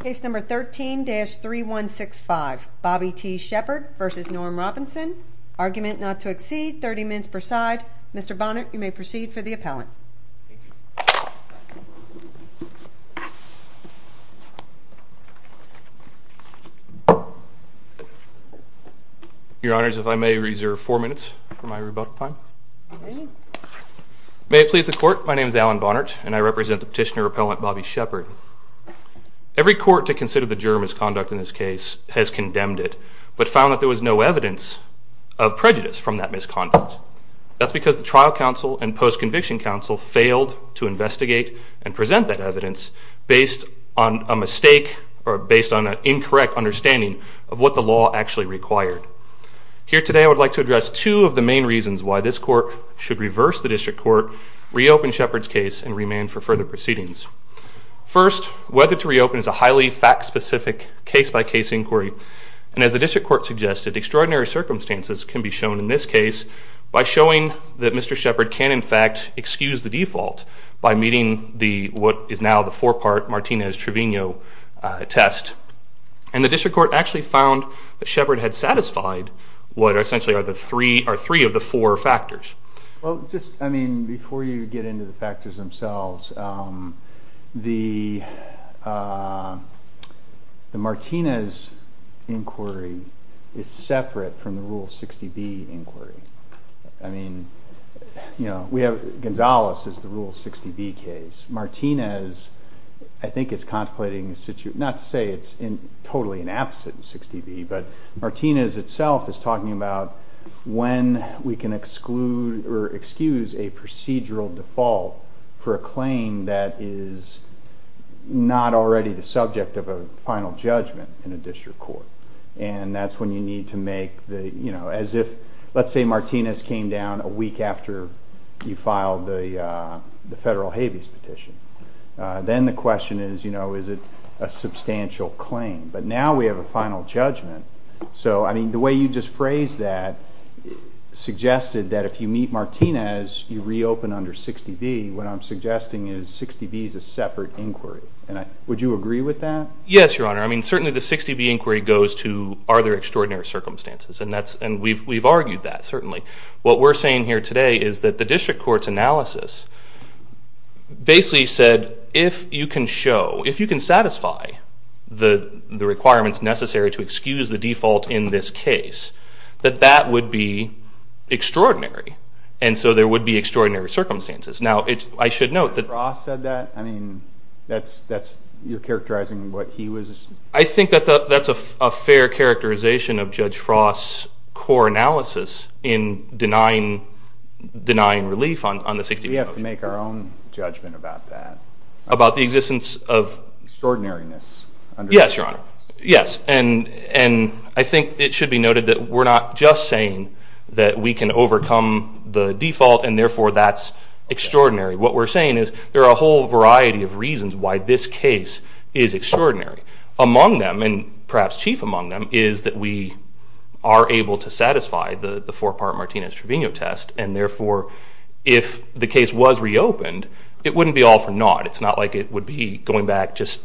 Case number 13-3165, Bobby T. Sheppard v. Norm Robinson. Argument not to exceed 30 minutes per side. Mr. Bonnert, you may proceed for the appellant. Your Honors, if I may reserve four minutes for my rebuttal time. May it please the Court, my name is Alan Bonnert and I represent the petitioner appellant Bobby Sheppard. Every court to consider the juror misconduct in this case has condemned it but found that there was no evidence of prejudice from that misconduct. That's because the trial counsel and post-conviction counsel failed to investigate and present that evidence based on a mistake or based on an incorrect understanding of what the law actually required. Here today I would like to address two of the main reasons why this Court should reverse the District Court, reopen Sheppard's case, and remand for further proceedings. First, whether to reopen is a highly fact-specific case-by-case inquiry and as the District Court suggested, extraordinary circumstances can be shown in this case by showing that Mr. Sheppard can in fact excuse the default by meeting what is now the four-part Martinez-Trevino test. And the District Court actually found that Sheppard had satisfied what essentially are three of the four factors. Well, just, I mean, before you get into the factors themselves, the Martinez inquiry is separate from the Rule 60B inquiry. I mean, you know, Gonzales is the Rule 60B case. Martinez, I think, is contemplating a situation, not to say it's totally inapposite to 60B, but Martinez itself is talking about when we can exclude or excuse a procedural default for a claim that is not already the subject of a final judgment in a District Court. And that's when you need to make the, you know, as if, let's say Martinez came down a week after you filed the federal habeas petition. Then the question is, you know, is it a substantial claim? But now we have a final judgment. So, I mean, the way you just phrased that suggested that if you meet Martinez, you reopen under 60B. What I'm suggesting is 60B is a separate inquiry. Would you agree with that? Yes, Your Honor. I mean, certainly the 60B inquiry goes to, are there extraordinary circumstances? And we've argued that, certainly. What we're saying here today is that the District Court's analysis basically said if you can show, if you can satisfy the requirements necessary to excuse the default in this case, that that would be extraordinary. And so there would be extraordinary circumstances. Now, I should note that. Judge Frost said that? I mean, that's, you're characterizing what he was. I think that's a fair characterization of Judge Frost's core analysis in denying relief on the 60B motion. We have to make our own judgment about that. About the existence of? Extraordinariness. Yes, Your Honor. Yes. And I think it should be noted that we're not just saying that we can overcome the default and, therefore, that's extraordinary. What we're saying is there are a whole variety of reasons why this case is extraordinary. Among them, and perhaps chief among them, is that we are able to satisfy the four-part Martinez-Trevino test, and, therefore, if the case was reopened, it wouldn't be all for naught. It's not like it would be going back just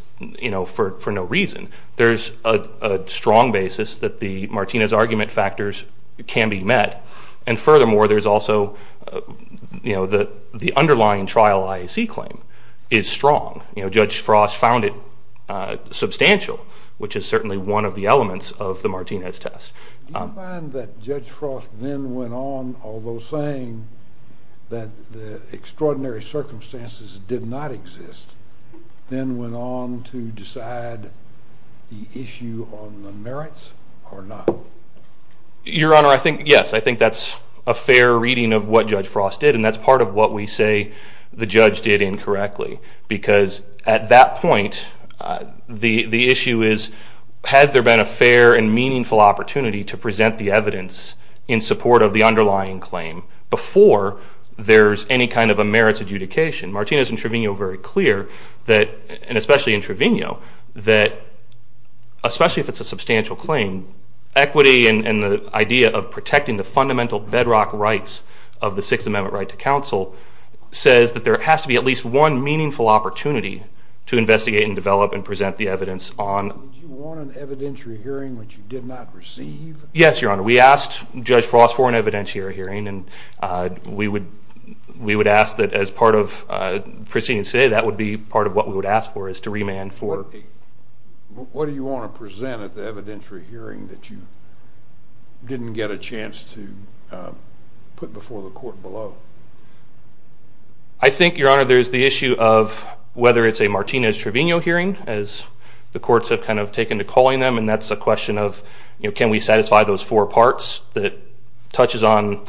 for no reason. There's a strong basis that the Martinez argument factors can be met, and, furthermore, there's also the underlying trial IAC claim is strong. Judge Frost found it substantial, which is certainly one of the elements of the Martinez test. Do you find that Judge Frost then went on, although saying that the extraordinary circumstances did not exist, then went on to decide the issue on the merits or not? Your Honor, yes, I think that's a fair reading of what Judge Frost did, and that's part of what we say the judge did incorrectly because, at that point, the issue is, has there been a fair and meaningful opportunity to present the evidence in support of the underlying claim before there's any kind of a merits adjudication? Martinez and Trevino are very clear that, and especially in Trevino, that, especially if it's a substantial claim, equity and the idea of protecting the fundamental bedrock rights of the Sixth Amendment right to counsel says that there has to be at least one meaningful opportunity to investigate and develop and present the evidence on. Did you want an evidentiary hearing which you did not receive? Yes, Your Honor. We asked Judge Frost for an evidentiary hearing, and we would ask that as part of proceeding today, that would be part of what we would ask for is to remand for... What do you want to present at the evidentiary hearing that you didn't get a chance to put before the court below? I think, Your Honor, there's the issue of whether it's a Martinez-Trevino hearing, as the courts have kind of taken to calling them, and that's a question of can we satisfy those four parts that touches on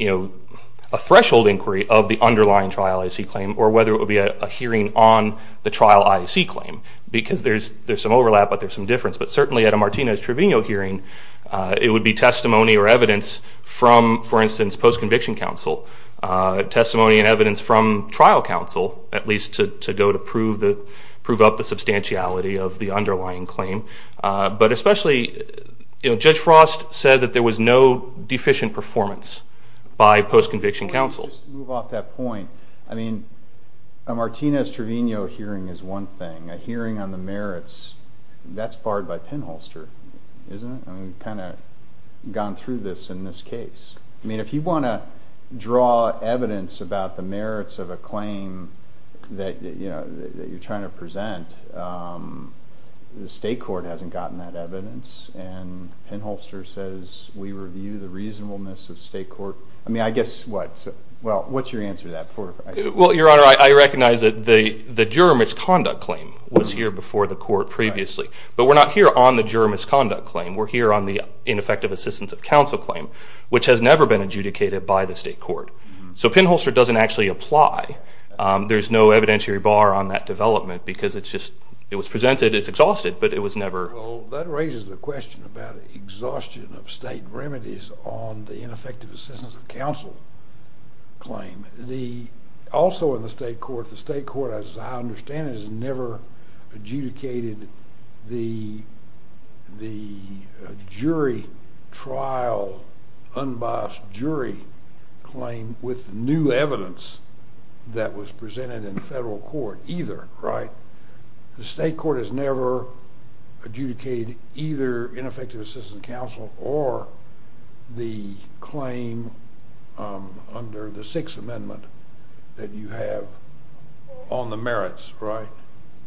a threshold inquiry of the underlying Trial I.C. claim or whether it would be a hearing on the Trial I.C. claim because there's some overlap but there's some difference. But certainly at a Martinez-Trevino hearing, it would be testimony or evidence from, for instance, post-conviction counsel, testimony and evidence from trial counsel, at least to go to prove up the substantiality of the underlying claim. But especially Judge Frost said that there was no deficient performance by post-conviction counsel. Let me just move off that point. I mean, a Martinez-Trevino hearing is one thing. A hearing on the merits, that's barred by Penholster, isn't it? I mean, we've kind of gone through this in this case. I mean, if you want to draw evidence about the merits of a claim that you're trying to present, the state court hasn't gotten that evidence, and Penholster says we review the reasonableness of state court. I mean, I guess what's your answer to that? Well, Your Honor, I recognize that the juror misconduct claim was here before the court previously. But we're not here on the juror misconduct claim. We're here on the ineffective assistance of counsel claim, which has never been adjudicated by the state court. So Penholster doesn't actually apply. There's no evidentiary bar on that development because it was presented. It's exhausted, but it was never. Well, that raises the question about exhaustion of state remedies on the ineffective assistance of counsel claim. Also in the state court, the state court, as I understand it, has never adjudicated the jury trial unbiased jury claim with new evidence that was presented in federal court either, right? The state court has never adjudicated either ineffective assistance of counsel or the claim under the Sixth Amendment that you have on the merits, right?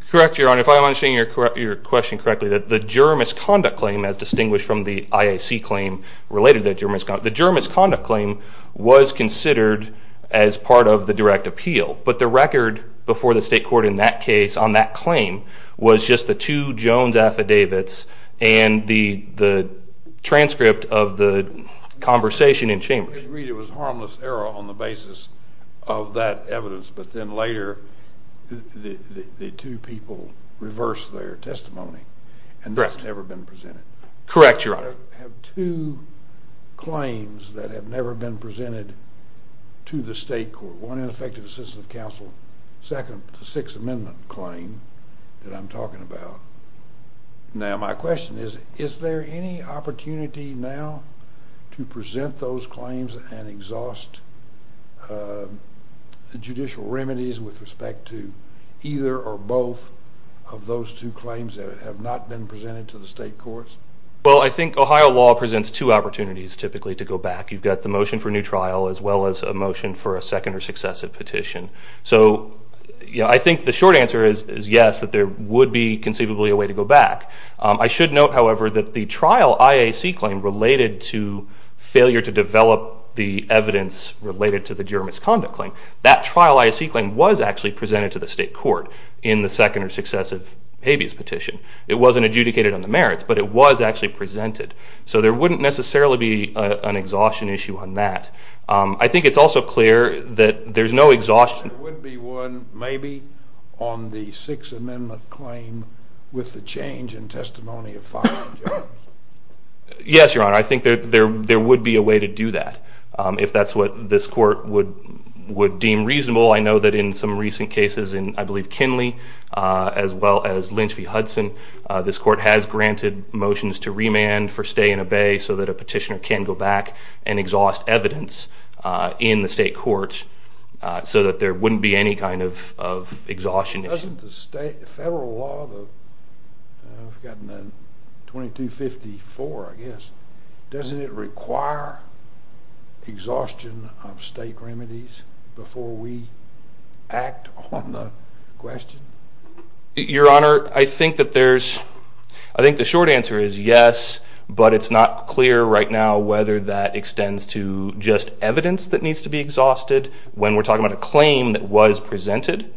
Correct, Your Honor. If I'm understanding your question correctly, the juror misconduct claim as distinguished from the IAC claim related to the juror misconduct claim, the juror misconduct claim was considered as part of the direct appeal. But the record before the state court in that case on that claim was just the two Jones affidavits and the transcript of the conversation in chambers. It was harmless error on the basis of that evidence, but then later the two people reversed their testimony and that's never been presented. Correct, Your Honor. I have two claims that have never been presented to the state court. One, ineffective assistance of counsel. Second, the Sixth Amendment claim that I'm talking about. Now, my question is, is there any opportunity now to present those claims and exhaust the judicial remedies with respect to either or both of those two claims that have not been presented to the state courts? Well, I think Ohio law presents two opportunities typically to go back. You've got the motion for new trial as well as a motion for a second or successive petition. So I think the short answer is yes, that there would be conceivably a way to go back. I should note, however, that the trial IAC claim related to failure to develop the evidence related to the juror misconduct claim, that trial IAC claim was actually presented to the state court in the second or successive habeas petition. It wasn't adjudicated on the merits, but it was actually presented. So there wouldn't necessarily be an exhaustion issue on that. I think it's also clear that there's no exhaustion. There would be one, maybe, on the Sixth Amendment claim with the change in testimony of filing judge. Yes, Your Honor. I think there would be a way to do that if that's what this court would deem reasonable. I know that in some recent cases in, I believe, Kinley, as well as Lynch v. Hudson, this court has granted motions to remand for stay and obey so that a petitioner can go back and exhaust evidence in the state court so that there wouldn't be any kind of exhaustion issue. Doesn't the federal law, 2254, I guess, doesn't it require exhaustion of state remedies before we act on the question? Your Honor, I think the short answer is yes, but it's not clear right now whether that extends to just evidence that needs to be exhausted when we're talking about a claim that was presented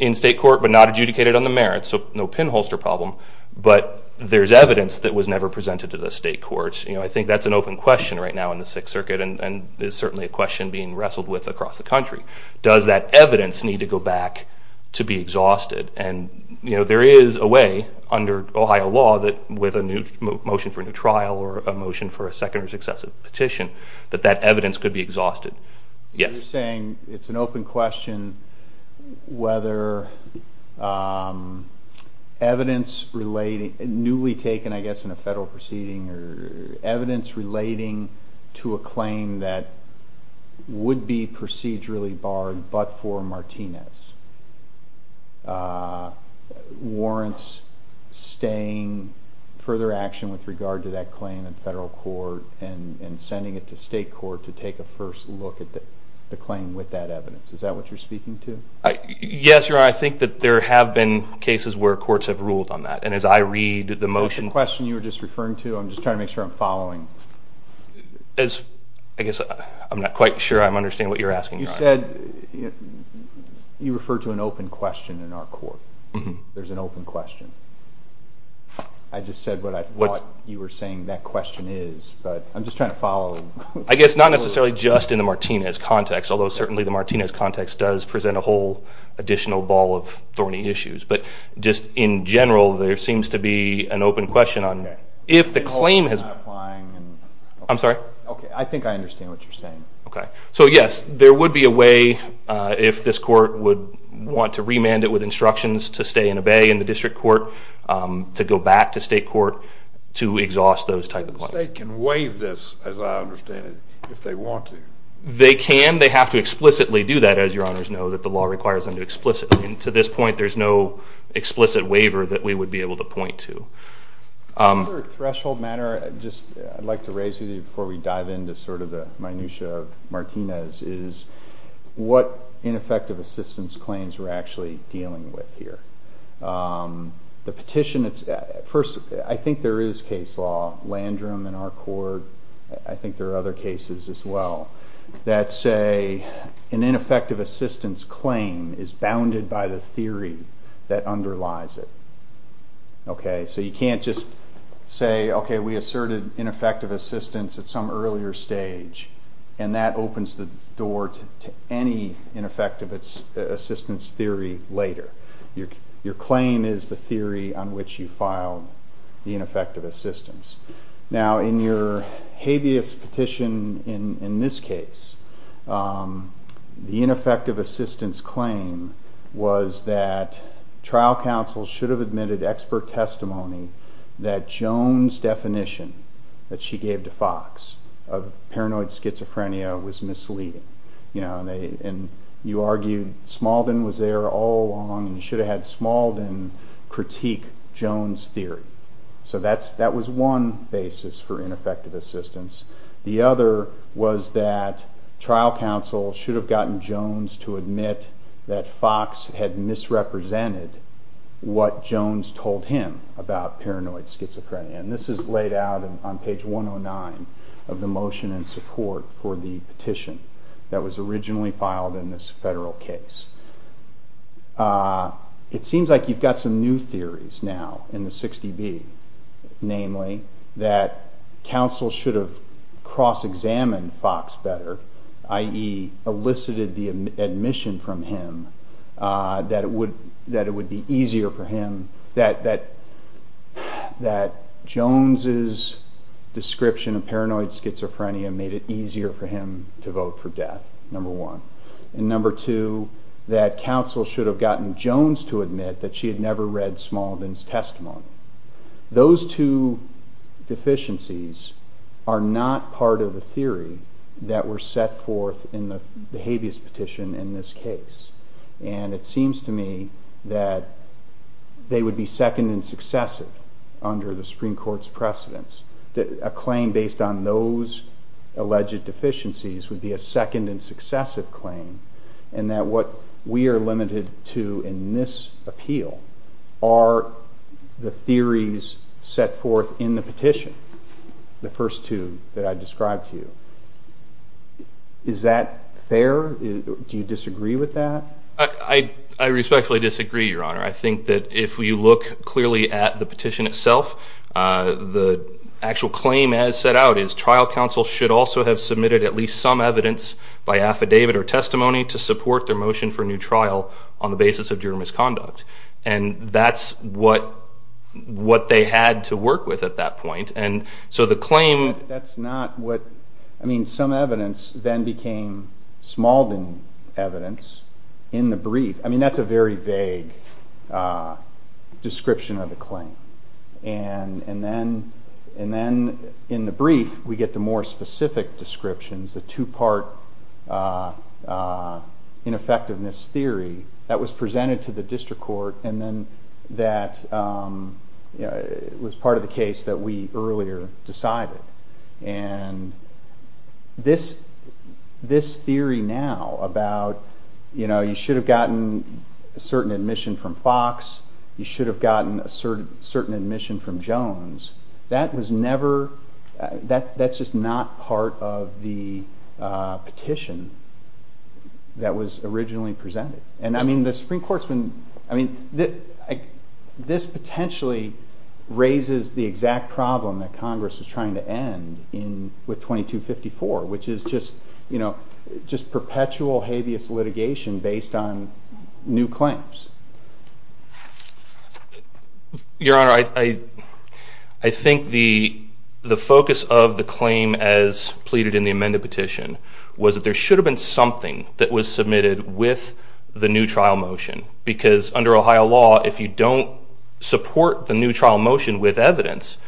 in state court but not adjudicated on the merits, so no pinholster problem. But there's evidence that was never presented to the state courts. I think that's an open question right now in the Sixth Circuit and is certainly a question being wrestled with across the country. Does that evidence need to go back to be exhausted? There is a way under Ohio law with a motion for a new trial or a motion for a second or successive petition that that evidence could be exhausted. You're saying it's an open question whether evidence newly taken, I guess, in a federal proceeding or evidence relating to a claim that would be procedurally barred but for Martinez warrants staying further action with regard to that claim in federal court and sending it to state court to take a first look at the claim with that evidence. Is that what you're speaking to? Yes, Your Honor. I think that there have been cases where courts have ruled on that, and as I read the motion— I'm just trying to make sure I'm following. I guess I'm not quite sure I understand what you're asking, Your Honor. You said you referred to an open question in our court. There's an open question. I just said what I thought you were saying that question is, but I'm just trying to follow. I guess not necessarily just in the Martinez context, although certainly the Martinez context does present a whole additional ball of thorny issues. But just in general, there seems to be an open question on if the claim has— I'm sorry? I think I understand what you're saying. Okay. So, yes, there would be a way if this court would want to remand it with instructions to stay and obey in the district court, to go back to state court to exhaust those type of claims. The state can waive this, as I understand it, if they want to. They can. They have to explicitly do that, as Your Honors know, that the law requires them to explicitly. To this point, there's no explicit waiver that we would be able to point to. Just for a threshold matter, I'd like to raise it before we dive into sort of the minutia of Martinez, is what ineffective assistance claims we're actually dealing with here. The petition, first, I think there is case law, Landrum in our court, I think there are other cases as well, that say an ineffective assistance claim is bounded by the theory that underlies it. So you can't just say, okay, we asserted ineffective assistance at some earlier stage, and that opens the door to any ineffective assistance theory later. Your claim is the theory on which you filed the ineffective assistance. Now, in your habeas petition in this case, the ineffective assistance claim was that trial counsel should have admitted expert testimony that Jones' definition that she gave to Fox of paranoid schizophrenia was misleading. You argued Smalden was there all along, So that was one basis for ineffective assistance. The other was that trial counsel should have gotten Jones to admit that Fox had misrepresented what Jones told him about paranoid schizophrenia. And this is laid out on page 109 of the motion in support for the petition that was originally filed in this federal case. It seems like you've got some new theories now in the 60B, namely that counsel should have cross-examined Fox better, i.e. elicited the admission from him that it would be easier for him, that Jones' description of paranoid schizophrenia made it easier for him to vote for death, number one. And number two, that counsel should have gotten Jones to admit that she had never read Smalden's testimony. Those two deficiencies are not part of the theory that were set forth in the habeas petition in this case. And it seems to me that they would be second and successive under the Supreme Court's precedence. A claim based on those alleged deficiencies would be a second and successive claim and that what we are limited to in this appeal are the theories set forth in the petition, the first two that I described to you. Is that fair? Do you disagree with that? I respectfully disagree, Your Honor. I think that if you look clearly at the petition itself, the actual claim as set out is trial counsel should also have submitted at least some evidence by affidavit or testimony to support their motion for a new trial on the basis of juror misconduct. And that's what they had to work with at that point. And so the claim... But that's not what... I mean, some evidence then became Smalden evidence in the brief. I mean, that's a very vague description of the claim. And then in the brief, we get the more specific descriptions, the two-part ineffectiveness theory that was presented to the district court and then that was part of the case that we earlier decided. And this theory now about, you know, you should have gotten a certain admission from Fox, you should have gotten a certain admission from Jones, that was never... that's just not part of the petition that was originally presented. And, I mean, the Supreme Court's been... I mean, this potentially raises the exact problem that Congress was trying to end with 2254, which is just perpetual habeas litigation based on new claims. Your Honor, I think the focus of the claim as pleaded in the amended petition was that there should have been something that was submitted with the new trial motion because under Ohio law, if you don't support the new trial motion with evidence,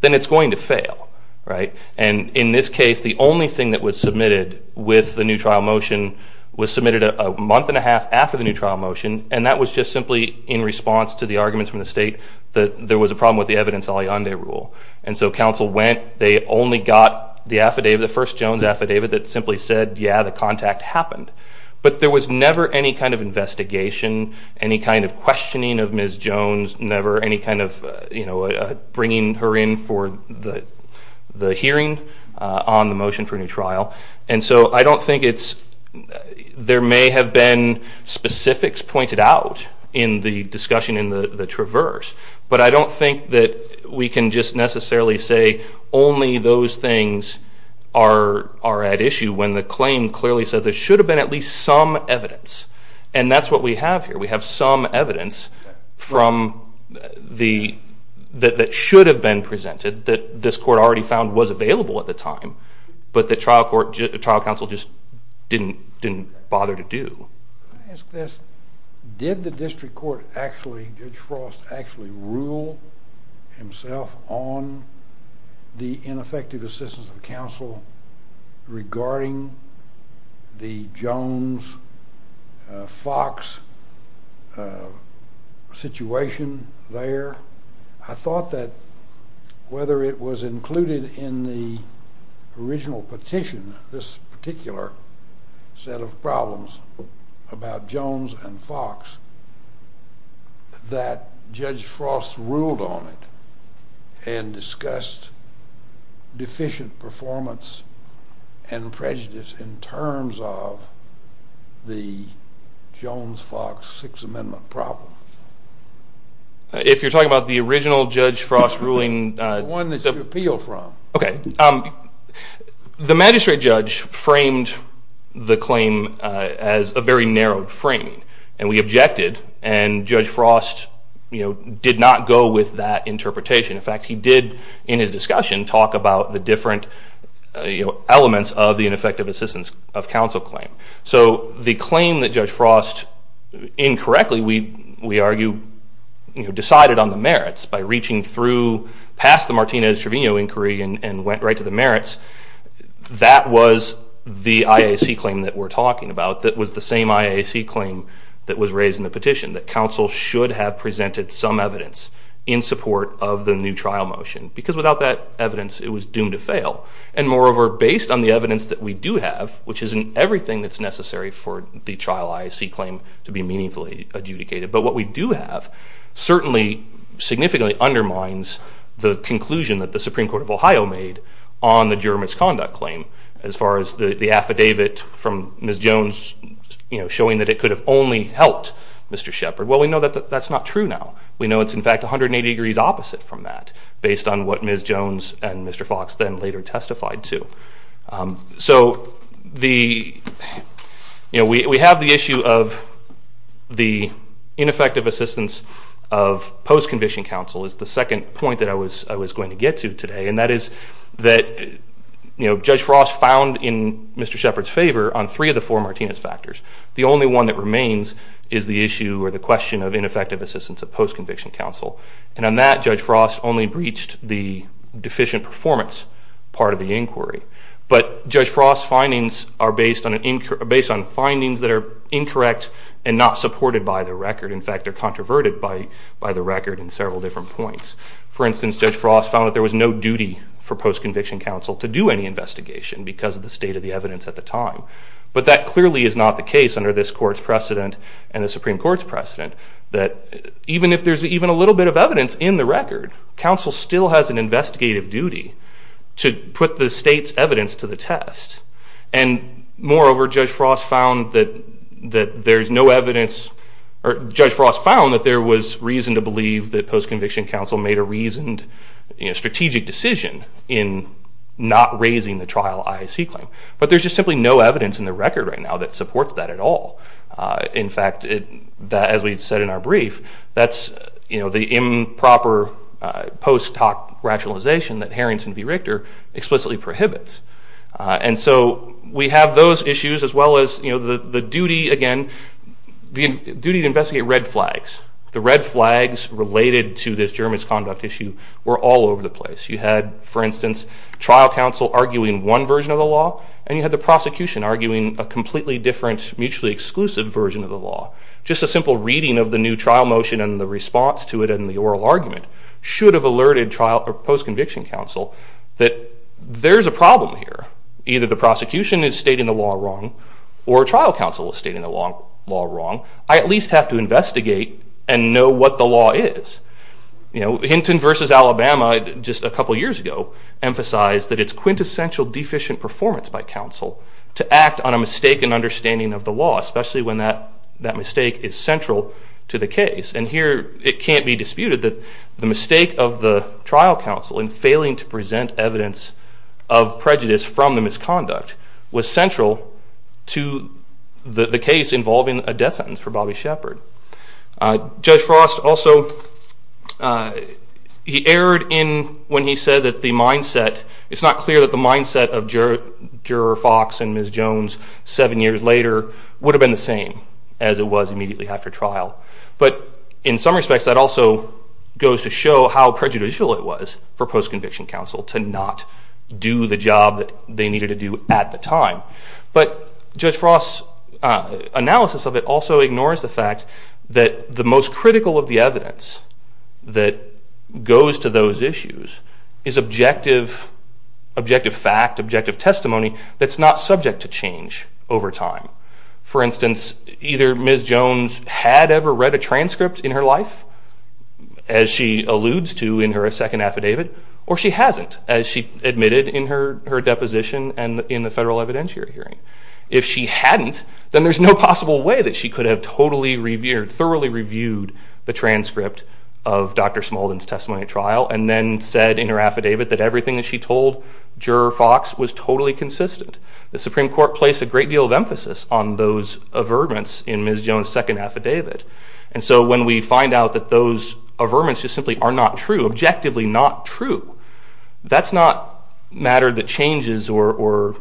then it's going to fail. Right? And in this case, the only thing that was submitted with the new trial motion was submitted a month and a half after the new trial motion and that was just simply in response to the arguments from the state that there was a problem with the evidence alliande rule. And so counsel went, they only got the affidavit, the first Jones affidavit, that simply said, yeah, the contact happened. But there was never any kind of investigation, any kind of questioning of Ms. Jones, never any kind of bringing her in for the hearing on the motion for a new trial. And so I don't think it's – there may have been specifics pointed out in the discussion in the traverse, but I don't think that we can just necessarily say only those things are at issue when the claim clearly said there should have been at least some evidence. And that's what we have here. We have some evidence that should have been presented that this court already found was available at the time, but the trial counsel just didn't bother to do. Let me ask this. Did the district court actually, Judge Frost, actually rule himself on the ineffective assistance of counsel regarding the Jones-Fox situation there? I thought that whether it was included in the original petition, this particular set of problems about Jones and Fox, that Judge Frost ruled on it and discussed deficient performance and prejudice in terms of the Jones-Fox Sixth Amendment problem. If you're talking about the original Judge Frost ruling. The one that you appealed from. Okay. The magistrate judge framed the claim as a very narrow frame, and we objected, and Judge Frost did not go with that interpretation. In fact, he did, in his discussion, talk about the different elements of the ineffective assistance of counsel claim. So the claim that Judge Frost incorrectly, we argue, decided on the merits by reaching through past the Martinez-Trevino inquiry and went right to the merits, that was the IAC claim that we're talking about that was the same IAC claim that was raised in the petition, that counsel should have presented some evidence in support of the new trial motion. Because without that evidence, it was doomed to fail. And moreover, based on the evidence that we do have, which isn't everything that's necessary for the trial IAC claim to be meaningfully adjudicated, but what we do have certainly significantly undermines the conclusion that the Supreme Court of Ohio made on the juror misconduct claim. As far as the affidavit from Ms. Jones showing that it could have only helped Mr. Shepard, well, we know that that's not true now. We know it's in fact 180 degrees opposite from that, based on what Ms. Jones and Mr. Fox then later testified to. So we have the issue of the ineffective assistance of post-conviction counsel is the second point that I was going to get to today, and that is that Judge Frost found in Mr. Shepard's favor on three of the four Martinez factors. The only one that remains is the issue or the question of ineffective assistance of post-conviction counsel. And on that, Judge Frost only breached the deficient performance part of the inquiry. But Judge Frost's findings are based on findings that are incorrect and not supported by the record. In fact, they're controverted by the record in several different points. For instance, Judge Frost found that there was no duty for post-conviction counsel to do any investigation because of the state of the evidence at the time. But that clearly is not the case under this court's precedent and the Supreme Court's precedent, that even if there's even a little bit of evidence in the record, counsel still has an investigative duty to put the state's evidence to the test. And moreover, Judge Frost found that there's no evidence, or Judge Frost found that there was reason to believe that post-conviction counsel made a reasoned strategic decision in not raising the trial IAC claim. But there's just simply no evidence in the record right now that supports that at all. In fact, as we said in our brief, that's the improper post hoc rationalization that Harrington v. Richter explicitly prohibits. And so we have those issues as well as the duty, again, the duty to investigate red flags. The red flags related to this germist conduct issue were all over the place. You had, for instance, trial counsel arguing one version of the law, and you had the prosecution arguing a completely different mutually exclusive version of the law. Just a simple reading of the new trial motion and the response to it and the oral argument should have alerted trial or post-conviction counsel that there's a problem here. Either the prosecution is stating the law wrong or trial counsel is stating the law wrong. I at least have to investigate and know what the law is. Hinton v. Alabama just a couple of years ago emphasized that it's quintessential deficient performance by counsel to act on a mistaken understanding of the law, especially when that mistake is central to the case. And here it can't be disputed that the mistake of the trial counsel in failing to present evidence of prejudice from the misconduct was central to the case involving a death sentence for Bobby Shepard. Judge Frost also, he erred in when he said that the mindset, it's not clear that the mindset of Juror Fox and Ms. Jones seven years later would have been the same as it was immediately after trial. But in some respects, that also goes to show how prejudicial it was for post-conviction counsel to not do the job that they needed to do at the time. But Judge Frost's analysis of it also ignores the fact that the most critical of the evidence that goes to those issues is objective fact, objective testimony that's not subject to change over time. For instance, either Ms. Jones had ever read a transcript in her life, as she alludes to in her second affidavit, or she hasn't, as she admitted in her deposition and in the federal evidentiary hearing. If she hadn't, then there's no possible way that she could have totally revered, thoroughly reviewed the transcript of Dr. Smaldon's testimony trial and then said in her affidavit that everything that she told Juror Fox was totally consistent. The Supreme Court placed a great deal of emphasis on those averments in Ms. Jones' second affidavit. And so when we find out that those averments just simply are not true, objectively not true, that's not matter that changes or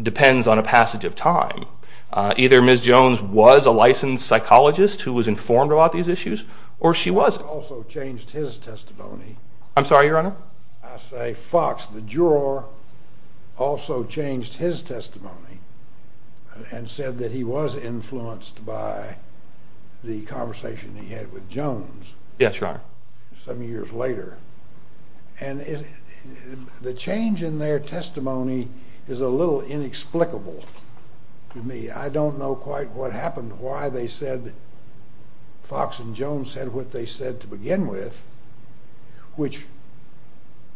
depends on a passage of time. Either Ms. Jones was a licensed psychologist who was informed about these issues, or she wasn't. I also changed his testimony. I'm sorry, Your Honor? I say Fox, the juror, also changed his testimony and said that he was influenced by the conversation he had with Jones some years later. And the change in their testimony is a little inexplicable to me. I don't know quite what happened, why they said Fox and Jones said what they said to begin with, which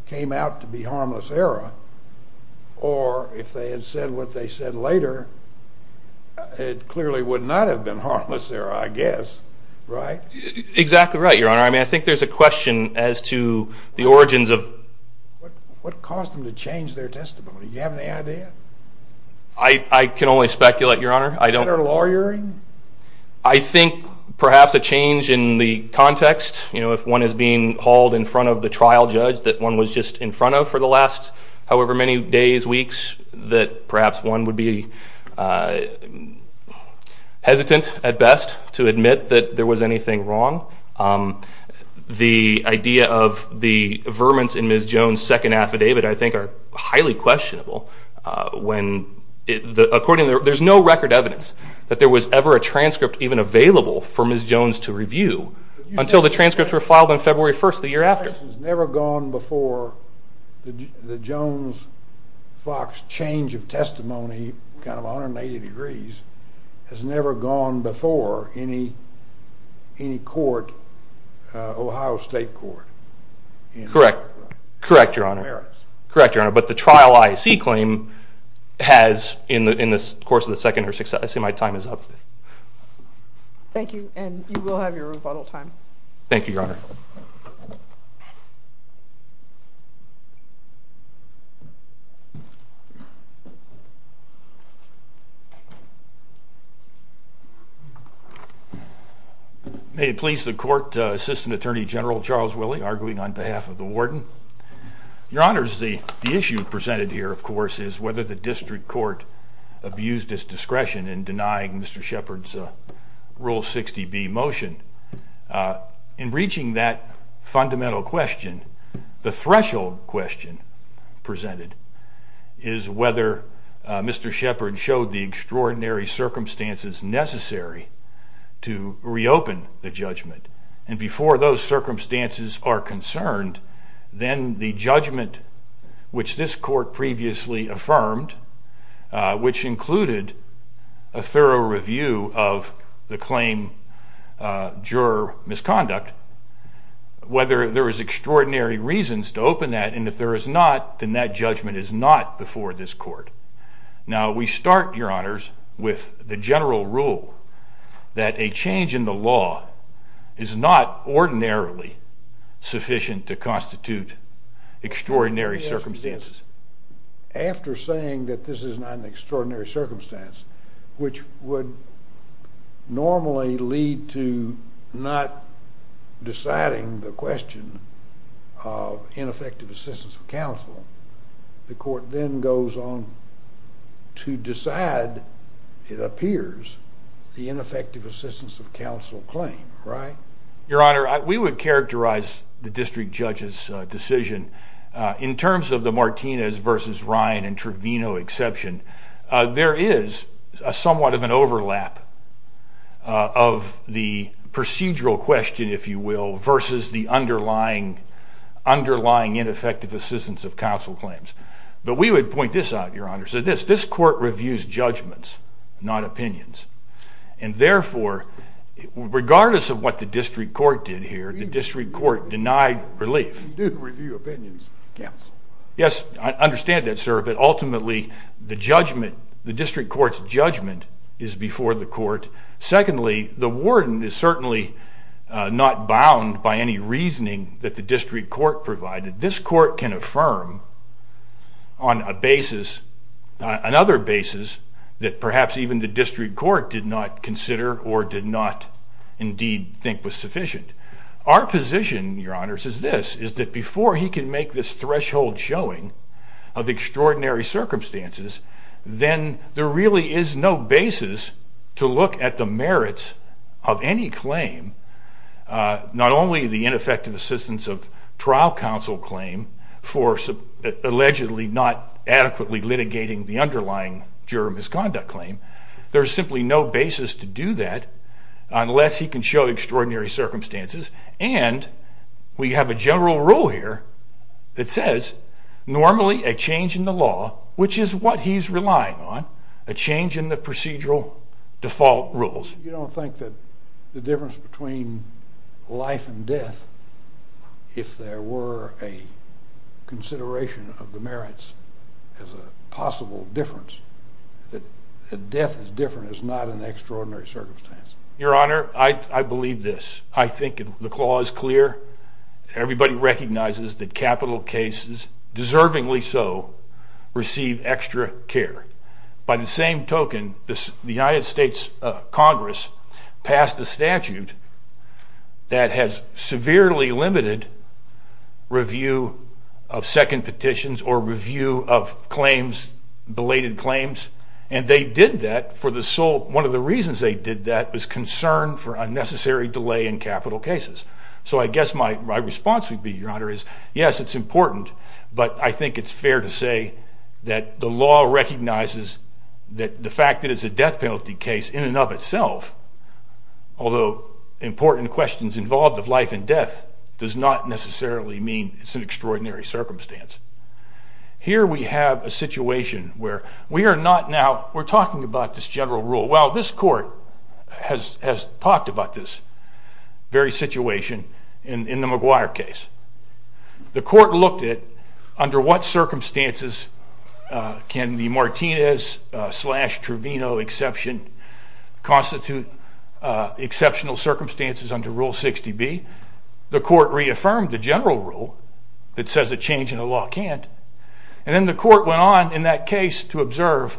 came out to be harmless error. Or if they had said what they said later, it clearly would not have been harmless error, I guess. Right? Exactly right, Your Honor. I mean, I think there's a question as to the origins of... What caused them to change their testimony? Do you have any idea? I can only speculate, Your Honor. Their lawyering? I think perhaps a change in the context. You know, if one is being hauled in front of the trial judge that one was just in front of for the last however many days, weeks, that perhaps one would be hesitant at best to admit that there was anything wrong. The idea of the vermins in Ms. Jones' second affidavit, I think, are highly questionable. Accordingly, there's no record evidence that there was ever a transcript even available for Ms. Jones to review until the transcripts were filed on February 1st, the year after. This has never gone before. The Jones-Fox change of testimony, kind of 180 degrees, has never gone before any court, Ohio State Court. Correct. Correct, Your Honor. Correct, Your Honor. But the trial I see claim has in the course of the second or sixth... I see my time is up. Thank you, and you will have your rebuttal time. Thank you, Your Honor. May it please the court, Assistant Attorney General Charles Willey, arguing on behalf of the warden. Your Honors, the issue presented here, of course, is whether the district court abused its discretion in denying Mr. Shepard's Rule 60B motion. In reaching that fundamental question, the threshold question presented is whether Mr. Shepard showed the extraordinary circumstances necessary to reopen the judgment. And before those circumstances are concerned, then the judgment which this court previously affirmed, which included a thorough review of the claim, juror misconduct, whether there is extraordinary reasons to open that, and if there is not, then that judgment is not before this court. Now, we start, Your Honors, with the general rule that a change in the law is not ordinarily sufficient to constitute extraordinary circumstances. After saying that this is not an extraordinary circumstance, which would normally lead to not deciding the question of ineffective assistance of counsel, the court then goes on to decide, it appears, the ineffective assistance of counsel claim, right? Your Honor, we would characterize the district judge's decision in terms of the Martinez v. Ryan and Trevino exception. There is somewhat of an overlap of the procedural question, if you will, versus the underlying ineffective assistance of counsel claims. But we would point this out, Your Honor. So this court reviews judgments, not opinions. And therefore, regardless of what the district court did here, the district court denied relief. We do review opinions, counsel. Yes, I understand that, sir, but ultimately the judgment, the district court's judgment is before the court. Secondly, the warden is certainly not bound by any reasoning that the district court provided. This court can affirm on a basis, another basis, that perhaps even the district court did not consider or did not indeed think was sufficient. Our position, Your Honors, is this, is that before he can make this threshold showing of extraordinary circumstances, then there really is no basis to look at the merits of any claim, not only the ineffective assistance of trial counsel claim for allegedly not adequately litigating the underlying juror misconduct claim. There's simply no basis to do that unless he can show extraordinary circumstances. And we have a general rule here that says, normally a change in the law, which is what he's relying on, a change in the procedural default rules. You don't think that the difference between life and death, if there were a consideration of the merits as a possible difference, that death is different, is not an extraordinary circumstance? Your Honor, I believe this. I think the clause is clear. Everybody recognizes that capital cases, deservingly so, receive extra care. By the same token, the United States Congress passed a statute that has severely limited review of second petitions or review of claims, belated claims, and they did that for the sole, one of the reasons they did that was concern for unnecessary delay in capital cases. So I guess my response would be, Your Honor, is yes, it's important, but I think it's fair to say that the law recognizes that the fact that it's a death penalty case in and of itself, although important questions involved of life and death, does not necessarily mean it's an extraordinary circumstance. Here we have a situation where we are not now, we're talking about this general rule. Well, this court has talked about this very situation in the McGuire case. The court looked at under what circumstances can the Martinez slash Truvino exception constitute exceptional circumstances under Rule 60B. The court reaffirmed the general rule that says a change in the law can't, and then the court went on in that case to observe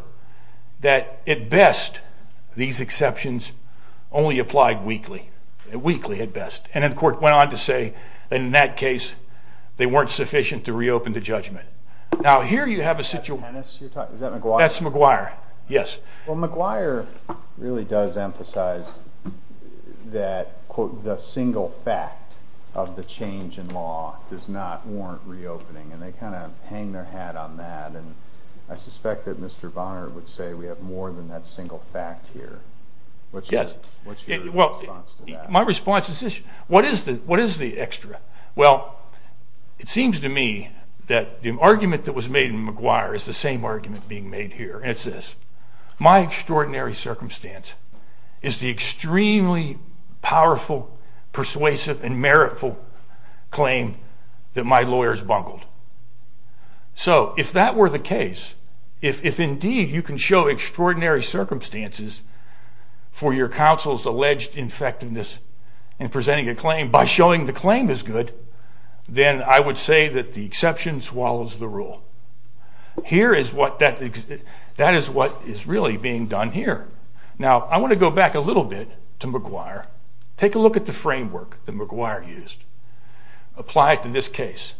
that at best these exceptions only applied weakly, weakly at best, and then the court went on to say in that case they weren't sufficient to reopen the judgment. Now, here you have a situation. Is that McGuire? That's McGuire, yes. Well, McGuire really does emphasize that, quote, the single fact of the change in law does not warrant reopening, and they kind of hang their hat on that, and I suspect that Mr. Bonner would say we have more than that single fact here. Yes. What's your response to that? My response is this. What is the extra? Well, it seems to me that the argument that was made in McGuire is the same argument being made here, and it's this. My extraordinary circumstance is the extremely powerful, persuasive, and meritful claim that my lawyers bungled. So if that were the case, if indeed you can show extraordinary circumstances for your counsel's alleged effectiveness in presenting a claim by showing the claim is good, then I would say that the exception swallows the rule. That is what is really being done here. Now, I want to go back a little bit to McGuire, take a look at the framework that McGuire used, apply it to this case.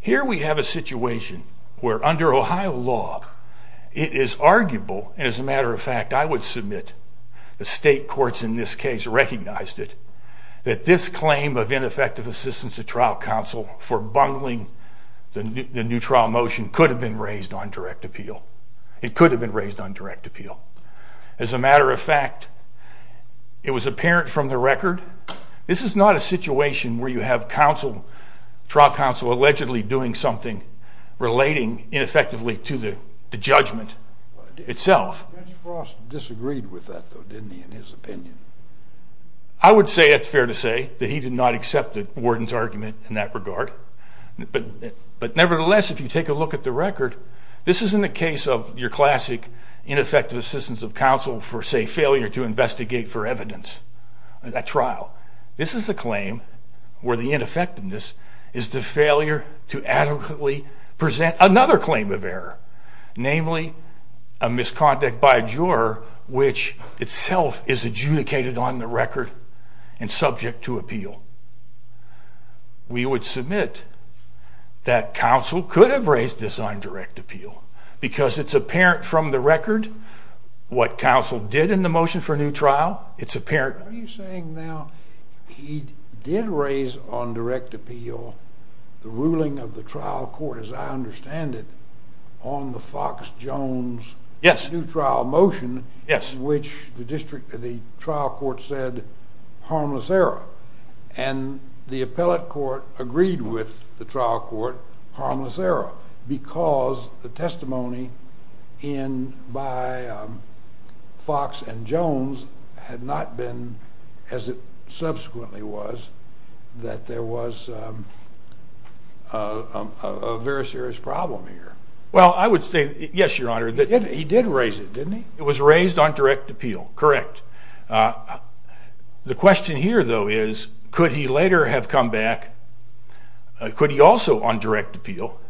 Here we have a situation where under Ohio law it is arguable, and as a matter of fact I would submit the state courts in this case recognized it, that this claim of ineffective assistance to trial counsel for bungling the new trial motion could have been raised on direct appeal. It could have been raised on direct appeal. As a matter of fact, it was apparent from the record this is not a situation where you have trial counsel allegedly doing something relating ineffectively to the judgment itself. Judge Frost disagreed with that, though, didn't he, in his opinion? I would say it's fair to say that he did not accept the warden's argument in that regard. But nevertheless, if you take a look at the record, this isn't a case of your classic ineffective assistance of counsel for, say, failure to investigate for evidence at trial. This is a claim where the ineffectiveness is the failure to adequately present another claim of error, namely a misconduct by a juror which itself is adjudicated on the record and subject to appeal. We would submit that counsel could have raised this on direct appeal because it's apparent from the record what counsel did in the motion for a new trial. It's apparent. Are you saying now he did raise on direct appeal the ruling of the trial court, as I understand it, on the Fox Jones new trial motion, which the trial court said harmless error, and the appellate court agreed with the trial court harmless error because the testimony by Fox and Jones had not been as it subsequently was that there was a very serious problem here? Well, I would say, yes, Your Honor. He did raise it, didn't he? It was raised on direct appeal. Correct. The question here, though, is could he later have come back, could he also on direct appeal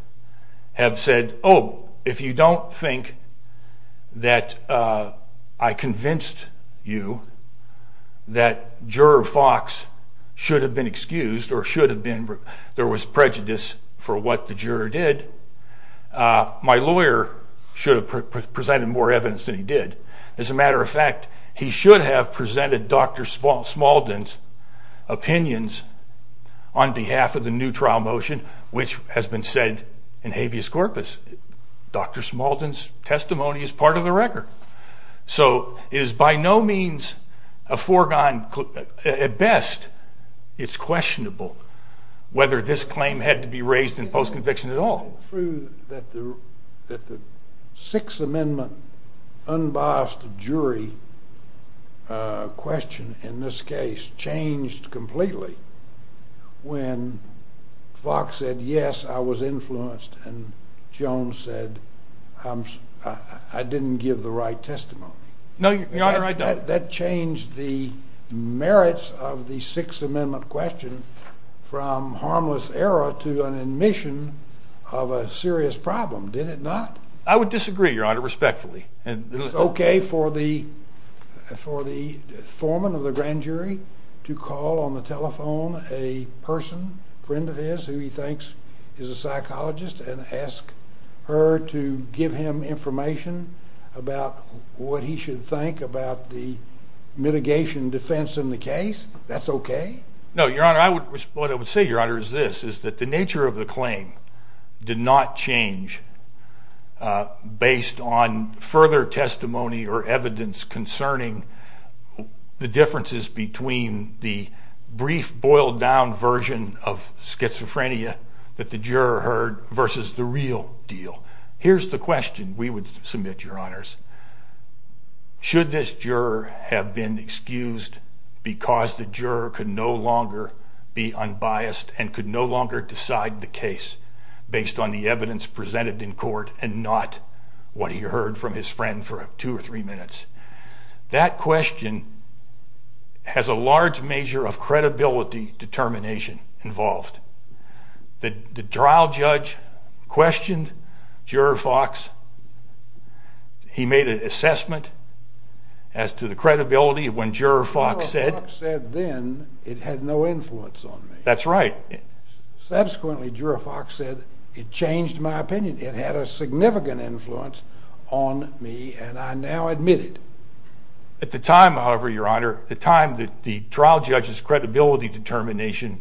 have said, oh, if you don't think that I convinced you that Juror Fox should have been excused or there was prejudice for what the juror did, my lawyer should have presented more evidence than he did. As a matter of fact, he should have presented Dr. Smaldon's opinions on behalf of the new trial motion, which has been said in habeas corpus. Dr. Smaldon's testimony is part of the record. So it is by no means a foregone... At best, it's questionable whether this claim had to be raised in post-conviction at all. It's true that the Sixth Amendment unbiased jury question in this case changed completely when Fox said, yes, I was influenced and Jones said, I didn't give the right testimony. No, Your Honor, I don't. That changed the merits of the Sixth Amendment question from harmless error to an admission of a serious problem, did it not? I would disagree, Your Honor, respectfully. Is it okay for the foreman of the grand jury to call on the telephone a person, a friend of his who he thinks is a psychologist and ask her to give him information about what he should think about the mitigation defense in the case? That's okay? No, Your Honor. What I would say, Your Honor, is this, is that the nature of the claim did not change based on further testimony or evidence concerning the differences between the brief, boiled-down version of schizophrenia that the juror heard versus the real deal. Here's the question we would submit, Your Honors. Should this juror have been excused because the juror could no longer be unbiased and could no longer decide the case based on the evidence presented in court and not what he heard from his friend for two or three minutes? That question has a large measure of credibility determination involved. The trial judge questioned Juror Fox. He made an assessment as to the credibility when Juror Fox said... Juror Fox said then it had no influence on me. That's right. Subsequently, Juror Fox said it changed my opinion. It had a significant influence on me, and I now admit it. At the time, however, Your Honor, the time that the trial judge's credibility determination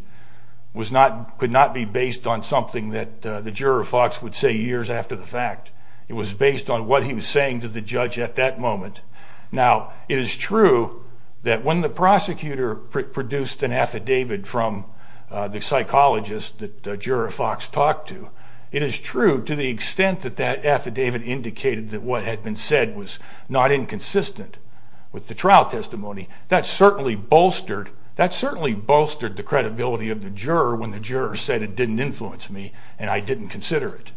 could not be based on something that the Juror Fox would say years after the fact. It was based on what he was saying to the judge at that moment. Now, it is true that when the prosecutor produced an affidavit from the psychologist that Juror Fox talked to, it is true to the extent that that affidavit indicated that what had been said was not inconsistent with the trial testimony. That certainly bolstered the credibility of the juror when the juror said it didn't influence me and I didn't consider it.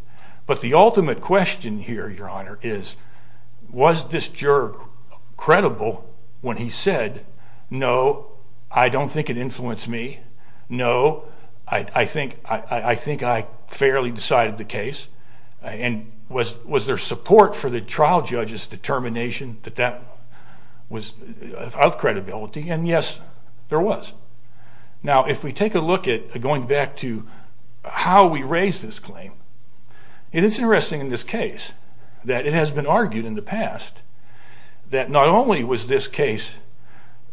But the ultimate question here, Your Honor, is was this juror credible when he said, no, I don't think it influenced me, no, I think I fairly decided the case, and was there support for the trial judge's determination that that was of credibility? And yes, there was. Now, if we take a look at going back to how we raised this claim, it is interesting in this case that it has been argued in the past that not only was this case,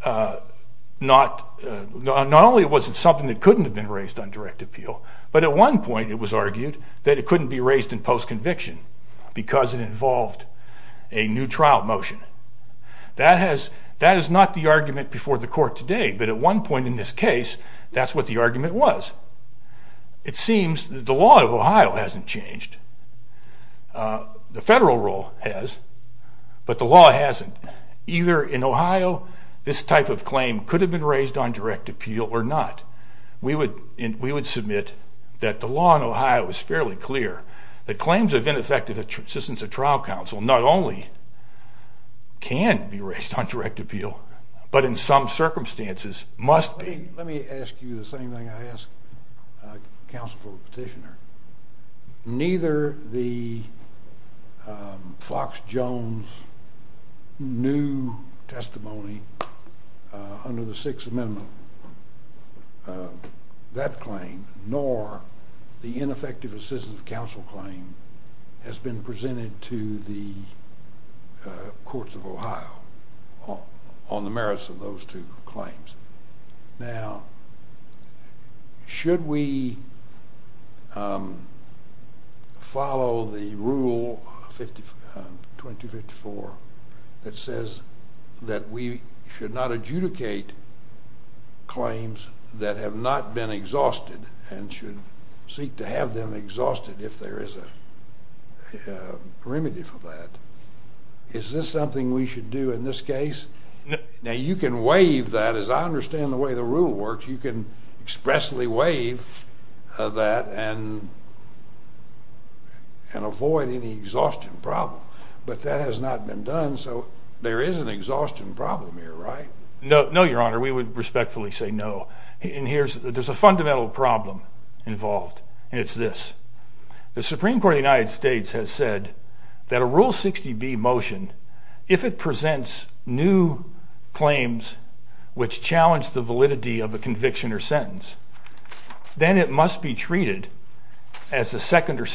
not only was it something that couldn't have been raised on direct appeal, but at one point it was argued that it couldn't be raised in post-conviction because it involved a new trial motion. That is not the argument before the court today, but at one point in this case, that's what the argument was. It seems that the law of Ohio hasn't changed. The federal rule has, but the law hasn't. Either in Ohio this type of claim could have been raised on direct appeal or not. We would submit that the law in Ohio is fairly clear, that claims of ineffective assistance of trial counsel not only can be raised on direct appeal, but in some circumstances must be. Let me ask you the same thing I asked counsel for the petitioner. Neither the Fox Jones new testimony under the Sixth Amendment, that claim, nor the ineffective assistance of counsel claim has been presented to the courts of Ohio on the merits of those two claims. Now, should we follow the Rule 2254 that says that we should not adjudicate claims that have not been exhausted and should seek to have them exhausted if there is a remedy for that? Is this something we should do in this case? Now, you can waive that. As I understand the way the rule works, you can expressly waive that and avoid any exhaustion problem. But that has not been done, so there is an exhaustion problem here, right? No, Your Honor. We would respectfully say no. There's a fundamental problem involved, and it's this. The Supreme Court of the United States has said that a Rule 60B motion, if it presents new claims which challenge the validity of a conviction or sentence, then it must be treated as a second or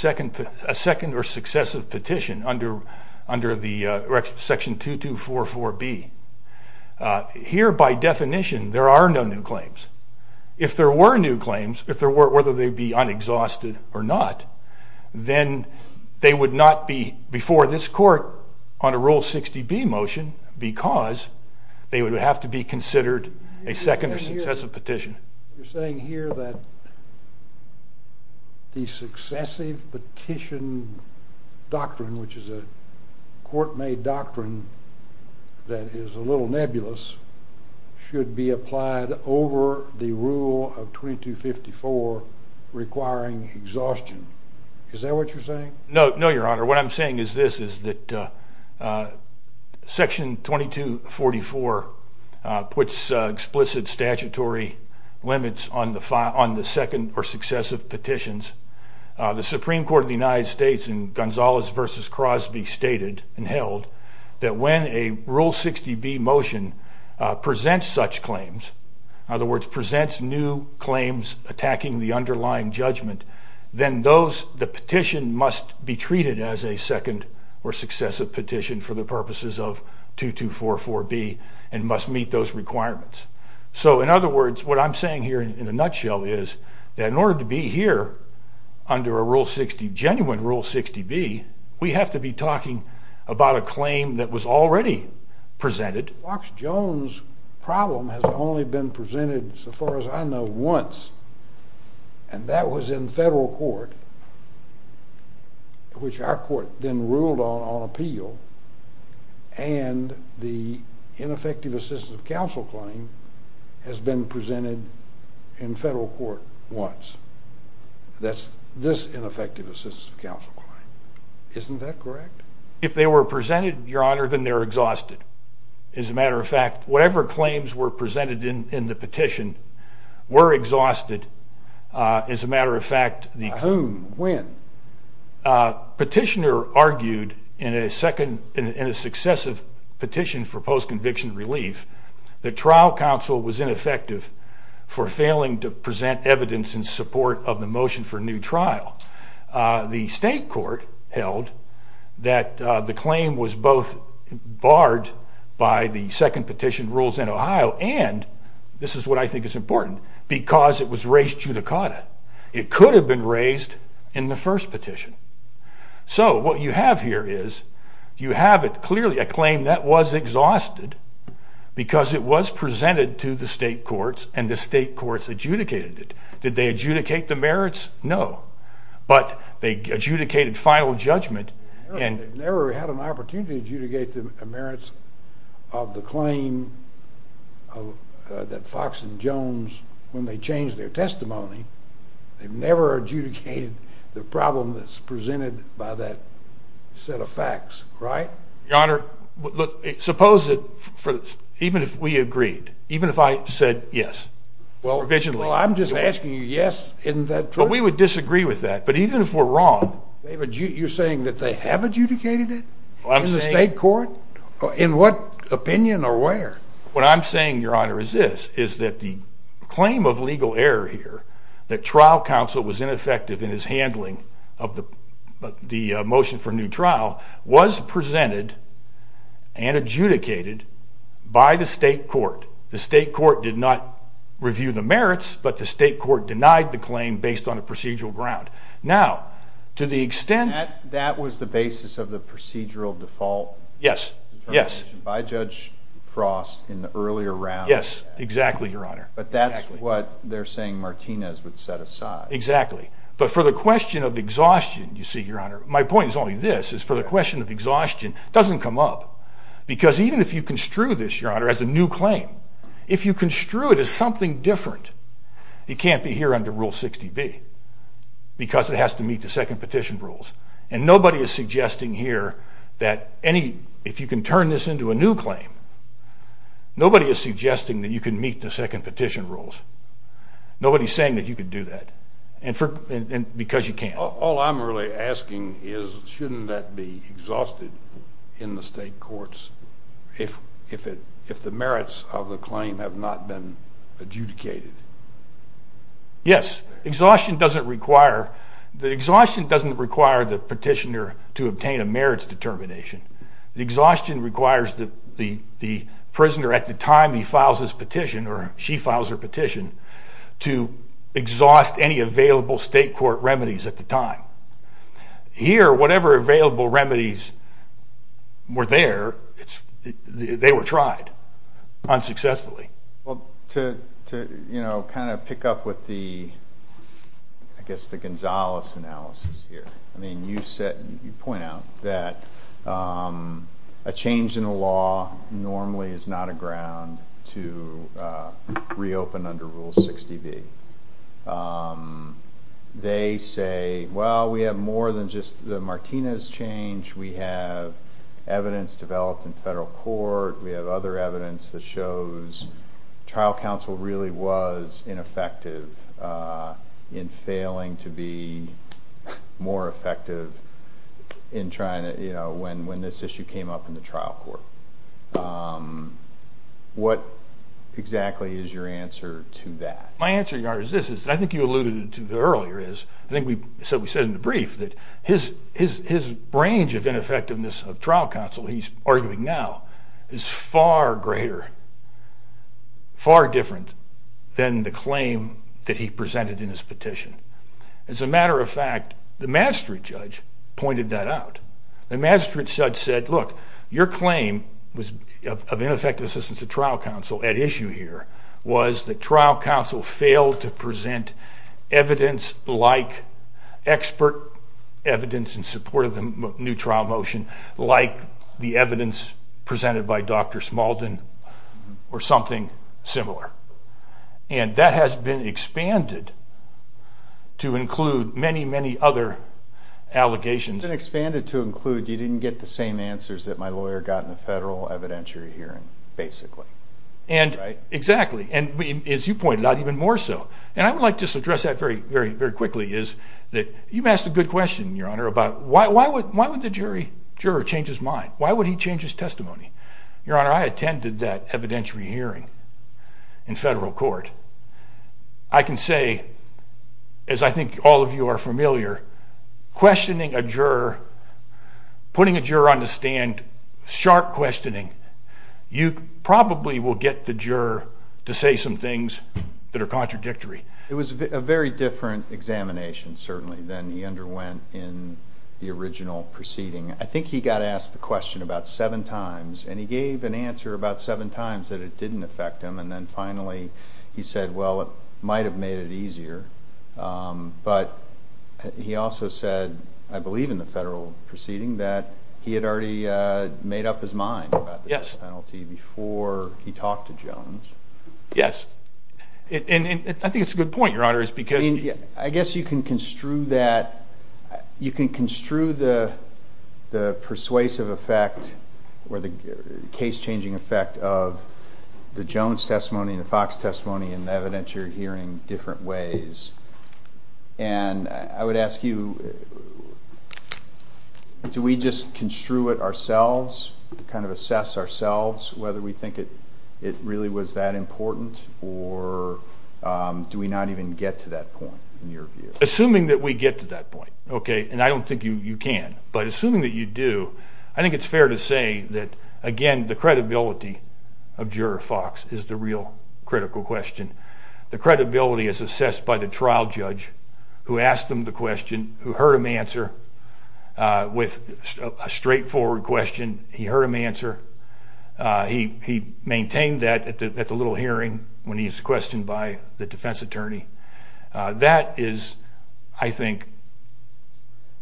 successive petition under Section 2244B. Here, by definition, there are no new claims. If there were new claims, whether they be unexhausted or not, then they would not be before this court on a Rule 60B motion because they would have to be considered a second or successive petition. You're saying here that the successive petition doctrine, which is a court-made doctrine that is a little nebulous, should be applied over the Rule of 2254 requiring exhaustion. Is that what you're saying? No, Your Honor. What I'm saying is this, is that Section 2244 puts explicit statutory limits on the second or successive petitions. that when a Rule 60B motion presents such claims, in other words, presents new claims attacking the underlying judgment, then the petition must be treated as a second or successive petition for the purposes of 2244B and must meet those requirements. In other words, what I'm saying here in a nutshell is that in order to be here under a genuine Rule 60B, we have to be talking about a claim that was already presented. Fox Jones' problem has only been presented, so far as I know, once, and that was in federal court, which our court then ruled on on appeal, and the ineffective assistance of counsel claim has been presented in federal court once. That's this ineffective assistance of counsel claim. Isn't that correct? If they were presented, Your Honor, then they're exhausted. As a matter of fact, whatever claims were presented in the petition were exhausted. As a matter of fact, A whom? When? Petitioner argued in a successive petition for post-conviction relief that trial counsel was ineffective for failing to present evidence in support of the motion for new trial. The state court held that the claim was both barred by the second petition rules in Ohio, and this is what I think is important, because it was raised judicata. It could have been raised in the first petition. So what you have here is you have it clearly, a claim that was exhausted because it was presented to the state courts and the state courts adjudicated it. Did they adjudicate the merits? No. But they adjudicated final judgment. They've never had an opportunity to adjudicate the merits of the claim that Fox and Jones, when they changed their testimony, they've never adjudicated the problem that's presented by that set of facts, right? Your Honor, suppose that even if we agreed, even if I said yes provisionally. Well, I'm just asking you yes, isn't that true? But we would disagree with that, but even if we're wrong. You're saying that they have adjudicated it in the state court? In what opinion or where? What I'm saying, Your Honor, is this, is that the claim of legal error here that trial counsel was ineffective in his handling of the motion for new trial was presented and adjudicated by the state court. The state court did not review the merits, but the state court denied the claim based on a procedural ground. Now, to the extent... That was the basis of the procedural default determination by Judge Frost in the earlier round. Yes, exactly, Your Honor. But that's what they're saying Martinez would set aside. Exactly, but for the question of exhaustion, you see, Your Honor, my point is only this, is for the question of exhaustion doesn't come up because even if you construe this, Your Honor, as a new claim, if you construe it as something different, it can't be here under Rule 60B because it has to meet the second petition rules. And nobody is suggesting here that any... If you can turn this into a new claim, nobody is suggesting that you can meet the second petition rules. Nobody is saying that you can do that because you can't. All I'm really asking is shouldn't that be exhausted in the state courts if the merits of the claim have not been adjudicated? Yes. Exhaustion doesn't require the petitioner to obtain a merits determination. Exhaustion requires the prisoner at the time he files his petition, or she files her petition, to exhaust any available state court remedies at the time. Here, whatever available remedies were there, they were tried unsuccessfully. Well, to kind of pick up with the, I guess, the Gonzales analysis here, I mean, you point out that a change in the law normally is not a ground to reopen under Rule 60B. They say, well, we have more than just the Martinez change. We have evidence developed in federal court. We have other evidence that shows trial counsel really was ineffective in failing to be more effective in trying to, you know, when this issue came up in the trial court. What exactly is your answer to that? My answer is this. I think you alluded to earlier is, I think we said in the brief, that his range of ineffectiveness of trial counsel, he's arguing now, is far greater, far different than the claim that he presented in his petition. As a matter of fact, the Maastricht judge pointed that out. The Maastricht judge said, look, your claim of ineffective assistance of trial counsel at issue here was that trial counsel failed to present evidence like expert evidence in support of the new trial motion, like the evidence presented by Dr. Smalden or something similar. And that has been expanded to include many, many other allegations. It's been expanded to include you didn't get the same answers that my lawyer got in the federal evidentiary hearing, basically. Right? Exactly. And as you pointed out, even more so. And I would like to just address that very quickly, is that you've asked a good question, Your Honor, about why would the juror change his mind? Why would he change his testimony? Your Honor, I attended that evidentiary hearing in federal court. I can say, as I think all of you are familiar, questioning a juror, putting a juror on the stand, sharp questioning, you probably will get the juror to say some things that are contradictory. It was a very different examination, certainly, than he underwent in the original proceeding. I think he got asked the question about seven times, and he gave an answer about seven times that it didn't affect him, and then finally he said, well, it might have made it easier. But he also said, I believe in the federal proceeding, that he had already made up his mind about this penalty before he talked to Jones. Yes. And I think it's a good point, Your Honor. I guess you can construe that. You can construe the persuasive effect or the case-changing effect of the Jones testimony and the Fox testimony in evidentiary hearing different ways. And I would ask you, do we just construe it ourselves, kind of assess ourselves whether we think it really was that important, or do we not even get to that point, in your view? Assuming that we get to that point, okay, and I don't think you can, but assuming that you do, I think it's fair to say that, again, the credibility of Juror Fox is the real critical question. The credibility is assessed by the trial judge who asked him the question, who heard him answer. With a straightforward question, he heard him answer. He maintained that at the little hearing when he was questioned by the defense attorney. That is, I think,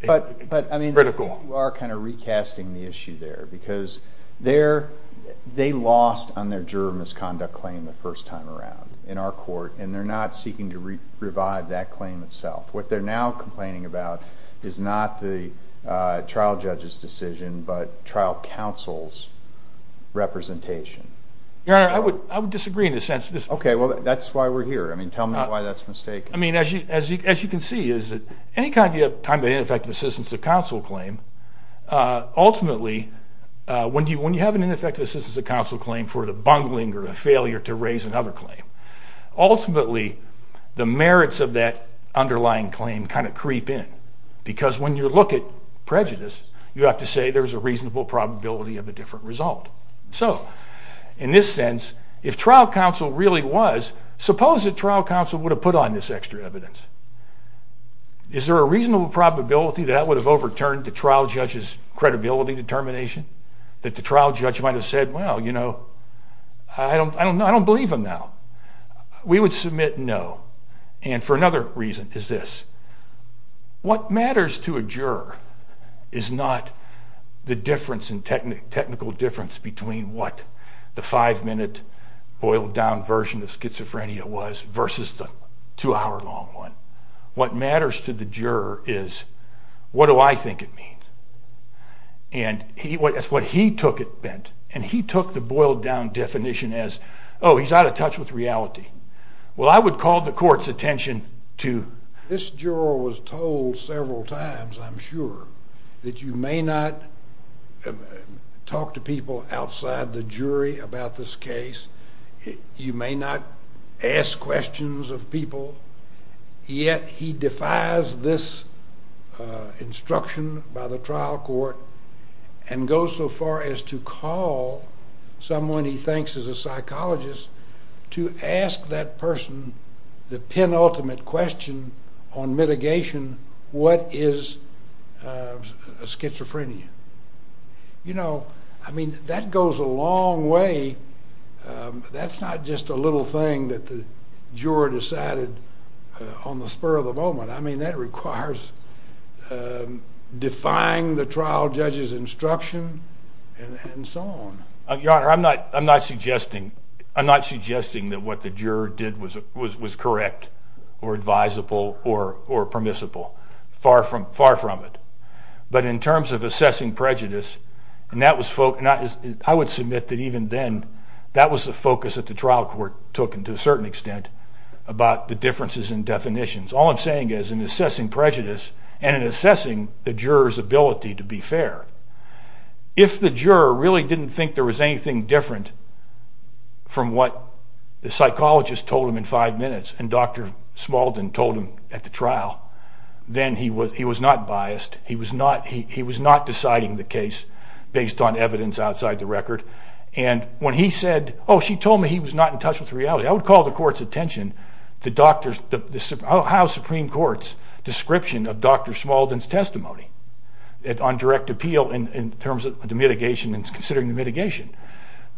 critical. I think you are kind of recasting the issue there because they lost on their juror misconduct claim the first time around in our court, and they're not seeking to revive that claim itself. What they're now complaining about is not the trial judge's decision but trial counsel's representation. Your Honor, I would disagree in a sense. Okay, well, that's why we're here. I mean, tell me why that's mistaken. As you can see, any kind of time of ineffective assistance to counsel claim, ultimately, when you have an ineffective assistance to counsel claim for the bungling or a failure to raise another claim, ultimately the merits of that underlying claim kind of creep in because when you look at prejudice, you have to say there's a reasonable probability of a different result. So in this sense, if trial counsel really was, suppose that trial counsel would have put on this extra evidence. Is there a reasonable probability that that would have overturned the trial judge's credibility determination? That the trial judge might have said, well, you know, I don't believe him now. We would submit no. And for another reason is this. What matters to a juror is not the difference in technical difference between what the five-minute, boiled-down version of schizophrenia was versus the two-hour-long one. What matters to the juror is what do I think it means. And that's what he took it meant. And he took the boiled-down definition as, oh, he's out of touch with reality. Well, I would call the court's attention to... This juror was told several times, I'm sure, that you may not talk to people outside the jury about this case. You may not ask questions of people. Yet he defies this instruction by the trial court and goes so far as to call someone he thinks is a psychologist to ask that person the penultimate question on mitigation, what is schizophrenia? You know, I mean, that goes a long way. That's not just a little thing that the juror decided on the spur of the moment. I mean, that requires defying the trial judge's instruction and so on. Your Honor, I'm not suggesting that what the juror did was correct or advisable or permissible. Far from it. But in terms of assessing prejudice, and I would submit that even then, that was the focus that the trial court took to a certain extent about the differences in definitions. All I'm saying is, in assessing prejudice and in assessing the juror's ability to be fair, if the juror really didn't think there was anything different from what the psychologist told him in five minutes and Dr. Smalden told him at the trial, then he was not biased. He was not deciding the case based on evidence outside the record. And when he said, oh, she told me he was not in touch with reality, I would call the court's attention to the Ohio Supreme Court's description of Dr. Smalden's testimony on direct appeal in terms of the mitigation and considering the mitigation.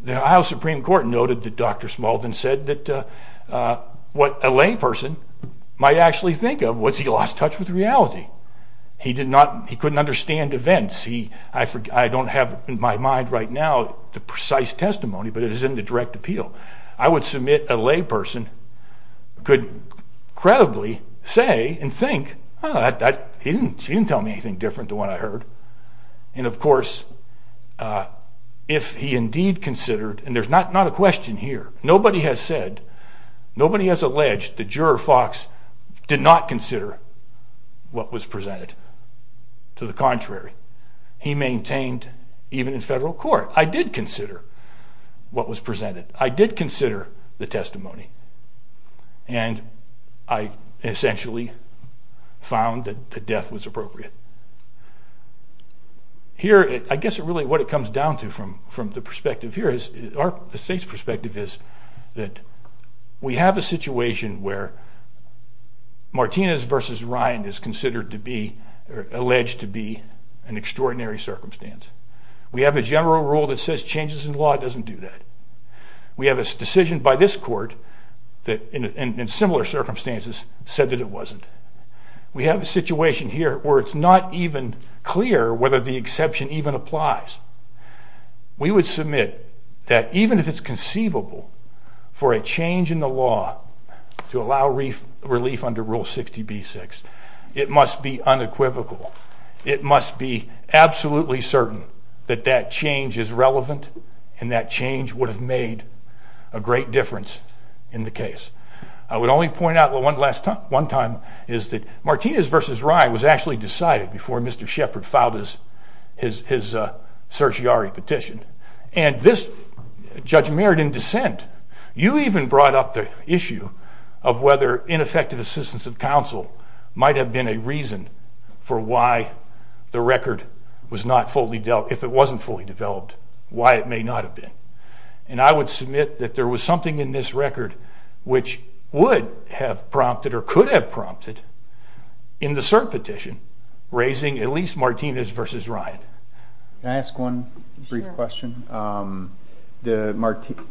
The Ohio Supreme Court noted that Dr. Smalden said that what a layperson might actually think of was he lost touch with reality. He couldn't understand events. I don't have in my mind right now the precise testimony, but it is in the direct appeal. I would submit a layperson could credibly say and think, oh, she didn't tell me anything different than what I heard. And of course, if he indeed considered, and there's not a question here, nobody has said, nobody has alleged the juror, Fox, did not consider what was presented. To the contrary, he maintained, even in federal court, I did consider what was presented. I did consider the testimony, and I essentially found that death was appropriate. Here, I guess really what it comes down to from the perspective here is our state's perspective is that we have a situation where Martinez versus Ryan is considered to be, alleged to be an extraordinary circumstance. We have a general rule that says changes in law doesn't do that. We have a decision by this court that in similar circumstances said that it wasn't. We have a situation here where it's not even clear whether the exception even applies. We would submit that even if it's conceivable for a change in the law to allow relief under Rule 60b-6, it must be unequivocal. It must be absolutely certain that that change is relevant and that change would have made a great difference in the case. I would only point out one time is that Martinez versus Ryan was actually decided before Mr. Shepard filed his certiorari petition, and this Judge Merritt, in dissent, you even brought up the issue of whether ineffective assistance of counsel might have been a reason for why the record was not fully dealt, if it wasn't fully developed, why it may not have been. And I would submit that there was something in this record which would have prompted or could have prompted in the cert petition raising at least Martinez versus Ryan. Can I ask one brief question? The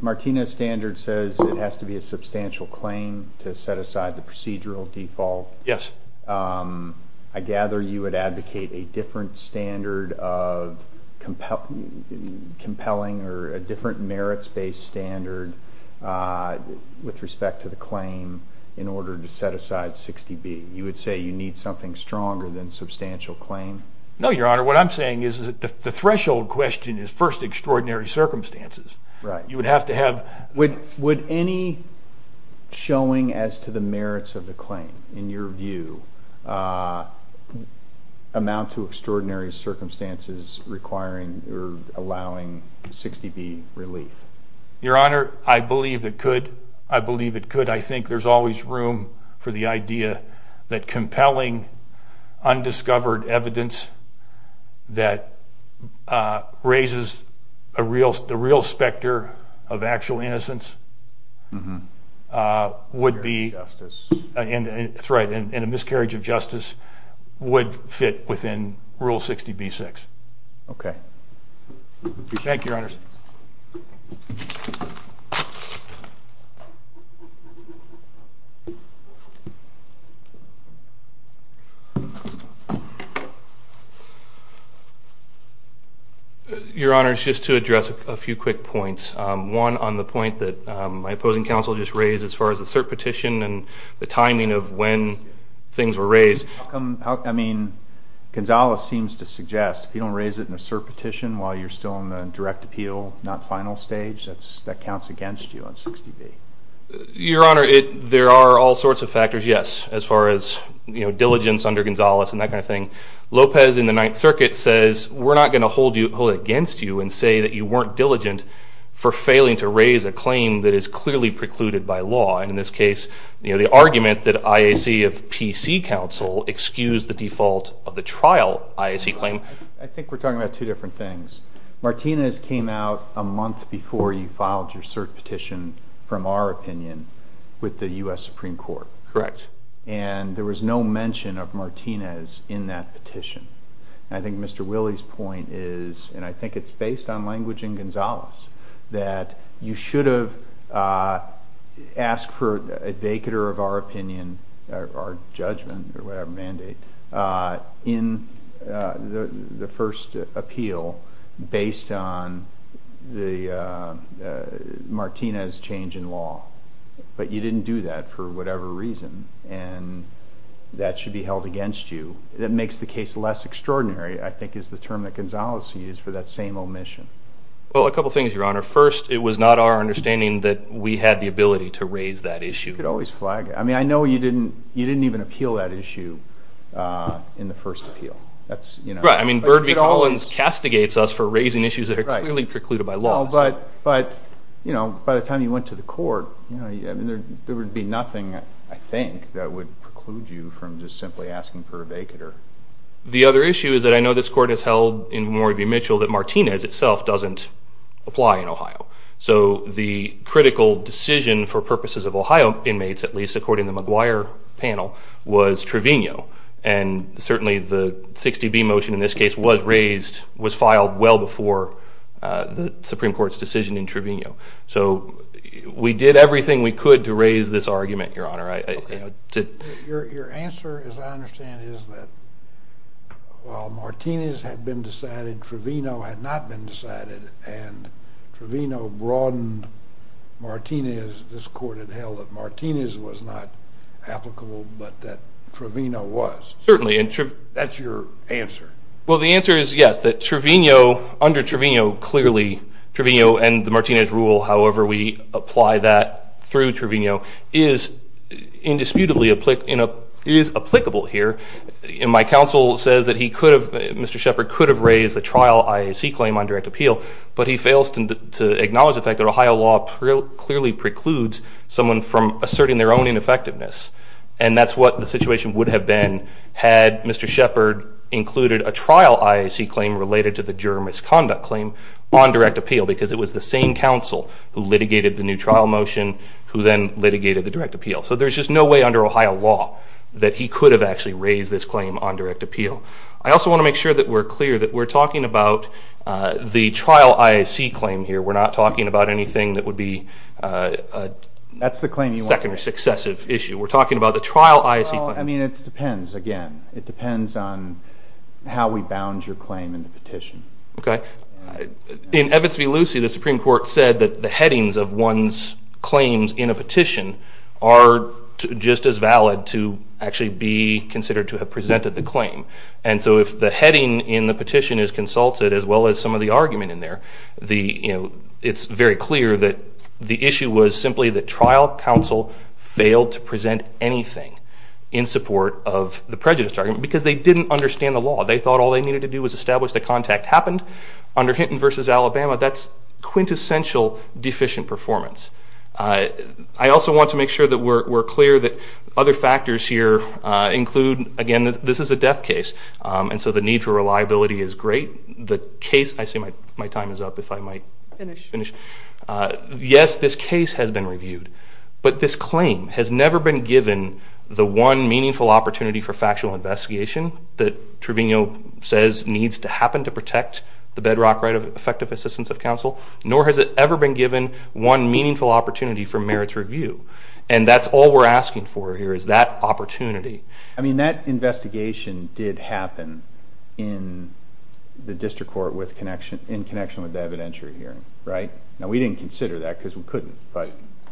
Martinez standard says it has to be a substantial claim to set aside the procedural default. Yes. I gather you would advocate a different standard of compelling or a different merits-based standard with respect to the claim in order to set aside 60b. You would say you need something stronger than substantial claim? No, Your Honor. What I'm saying is the threshold question is first extraordinary circumstances. Right. You would have to have... Would any showing as to the merits of the claim, in your view, amount to extraordinary circumstances requiring or allowing 60b relief? Your Honor, I believe it could. I believe it could. I think there's always room for the idea that compelling undiscovered evidence that raises the real specter of actual innocence would be... Injustice. That's right, and a miscarriage of justice would fit within Rule 60b-6. Okay. Thank you, Your Honors. Your Honors, just to address a few quick points, one on the point that my opposing counsel just raised as far as the cert petition and the timing of when things were raised. I mean, Gonzales seems to suggest if you don't raise it in a cert petition while you're still in the direct appeal, not final stage, that counts against you on 60b. Your Honor, there are all sorts of factors, yes, as far as diligence under Gonzales and that kind of thing. Lopez in the Ninth Circuit says we're not going to hold it against you and say that you weren't diligent for failing to raise a claim that is clearly precluded by law. In this case, the argument that IAC of PC counsel excused the default of the trial IAC claim. I think we're talking about two different things. Martinez came out a month before you filed your cert petition, from our opinion, with the U.S. Supreme Court. Correct. And there was no mention of Martinez in that petition. I think Mr. Willey's point is, and I think it's based on language in Gonzales, that you should have asked for a vacater of our opinion, our judgment or whatever mandate, in the first appeal based on the Martinez change in law. But you didn't do that for whatever reason, and that should be held against you. That makes the case less extraordinary, I think, is the term that Gonzales used for that same omission. Well, a couple of things, Your Honor. First, it was not our understanding that we had the ability to raise that issue. You could always flag it. I mean, I know you didn't even appeal that issue in the first appeal. Right. I mean, Bird v. Collins castigates us for raising issues that are clearly precluded by law. But, you know, by the time you went to the court, there would be nothing, I think, that would preclude you from just simply asking for a vacater. The other issue is that I know this court has held in Memorial v. Mitchell that Martinez itself doesn't apply in Ohio. So the critical decision for purposes of Ohio inmates, at least according to the McGuire panel, was Trevino. And certainly the 60B motion in this case was raised, was filed well before the Supreme Court's decision in Trevino. So we did everything we could to raise this argument, Your Honor. Your answer, as I understand it, was that while Martinez had been decided, Trevino had not been decided, and Trevino broadened Martinez. This court had held that Martinez was not applicable, but that Trevino was. Certainly. That's your answer. Well, the answer is yes, that Trevino, under Trevino, clearly, Trevino and the Martinez rule, however we apply that through Trevino, is indisputably applicable here. And my counsel says that he could have, Mr. Shepard, could have raised the trial IAC claim on direct appeal, but he fails to acknowledge the fact that Ohio law clearly precludes someone from asserting their own ineffectiveness. And that's what the situation would have been had Mr. Shepard included a trial IAC claim related to the juror misconduct claim on direct appeal, because it was the same counsel who litigated the new trial motion, who then litigated the direct appeal. So there's just no way under Ohio law that he could have actually raised this claim on direct appeal. I also want to make sure that we're clear that we're talking about the trial IAC claim here. We're not talking about anything that would be a second or successive issue. We're talking about the trial IAC claim. Well, I mean, it depends, again. It depends on how we bound your claim in the petition. Okay. In Evitz v. Lucie, the Supreme Court said that the headings of one's claims in a petition are just as valid to actually be considered to have presented the claim. And so if the heading in the petition is consulted, as well as some of the argument in there, it's very clear that the issue was simply that trial counsel failed to present anything in support of the prejudice argument, because they didn't understand the law. They thought all they needed to do was establish that contact happened. Under Hinton v. Alabama, that's quintessential deficient performance. I also want to make sure that we're clear that other factors here include, again, this is a death case, and so the need for reliability is great. The case – I see my time is up. If I might finish. Yes, this case has been reviewed. But this claim has never been given the one meaningful opportunity for factual investigation that Trevino says needs to happen to protect the bedrock right of effective assistance of counsel, nor has it ever been given one meaningful opportunity for merits review. And that's all we're asking for here is that opportunity. I mean, that investigation did happen in the district court in connection with the evidentiary hearing, right? Now, we didn't consider that because we couldn't.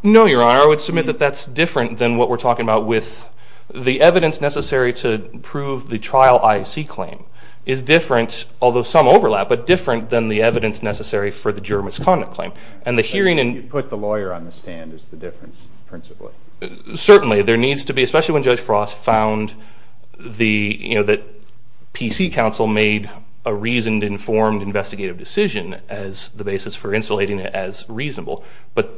No, Your Honor. I would submit that that's different than what we're talking about with the evidence necessary to prove the trial IAC claim is different, although some overlap, but different than the evidence necessary for the juror misconduct claim. You put the lawyer on the stand is the difference principally. Certainly. There needs to be, especially when Judge Frost found that PC counsel made a reasoned, informed investigative decision as the basis for insulating it as reasonable. But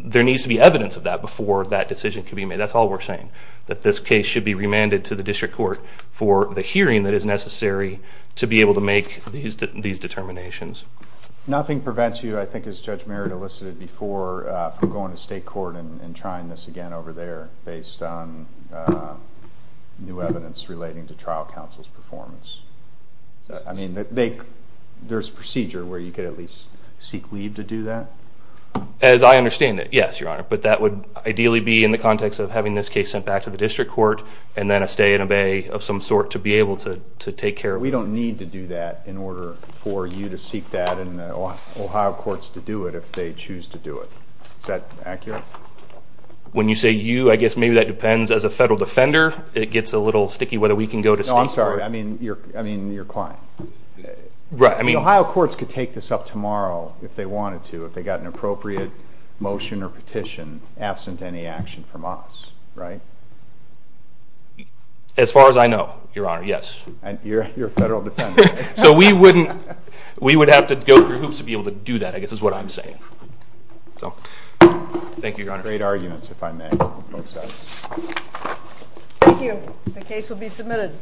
there needs to be evidence of that before that decision can be made. That's all we're saying, that this case should be remanded to the district court for the hearing that is necessary to be able to make these determinations. Nothing prevents you, I think as Judge Merritt elicited before, from going to state court and trying this again over there based on new evidence relating to trial counsel's performance. I mean, there's procedure where you could at least seek leave to do that? As I understand it, yes, Your Honor. But that would ideally be in the context of having this case sent back to the district court and then a stay and obey of some sort to be able to take care of it. We don't need to do that in order for you to seek that and the Ohio courts to do it if they choose to do it. Is that accurate? When you say you, I guess maybe that depends. As a federal defender, it gets a little sticky whether we can go to state court. No, I'm sorry. I mean your client. The Ohio courts could take this up tomorrow if they wanted to, if they got an appropriate motion or petition absent any action from us, right? As far as I know, Your Honor, yes. You're a federal defender. So we would have to go through hoops to be able to do that, I guess is what I'm saying. Thank you, Your Honor. Great arguments, if I may. Thank you. The case will be submitted.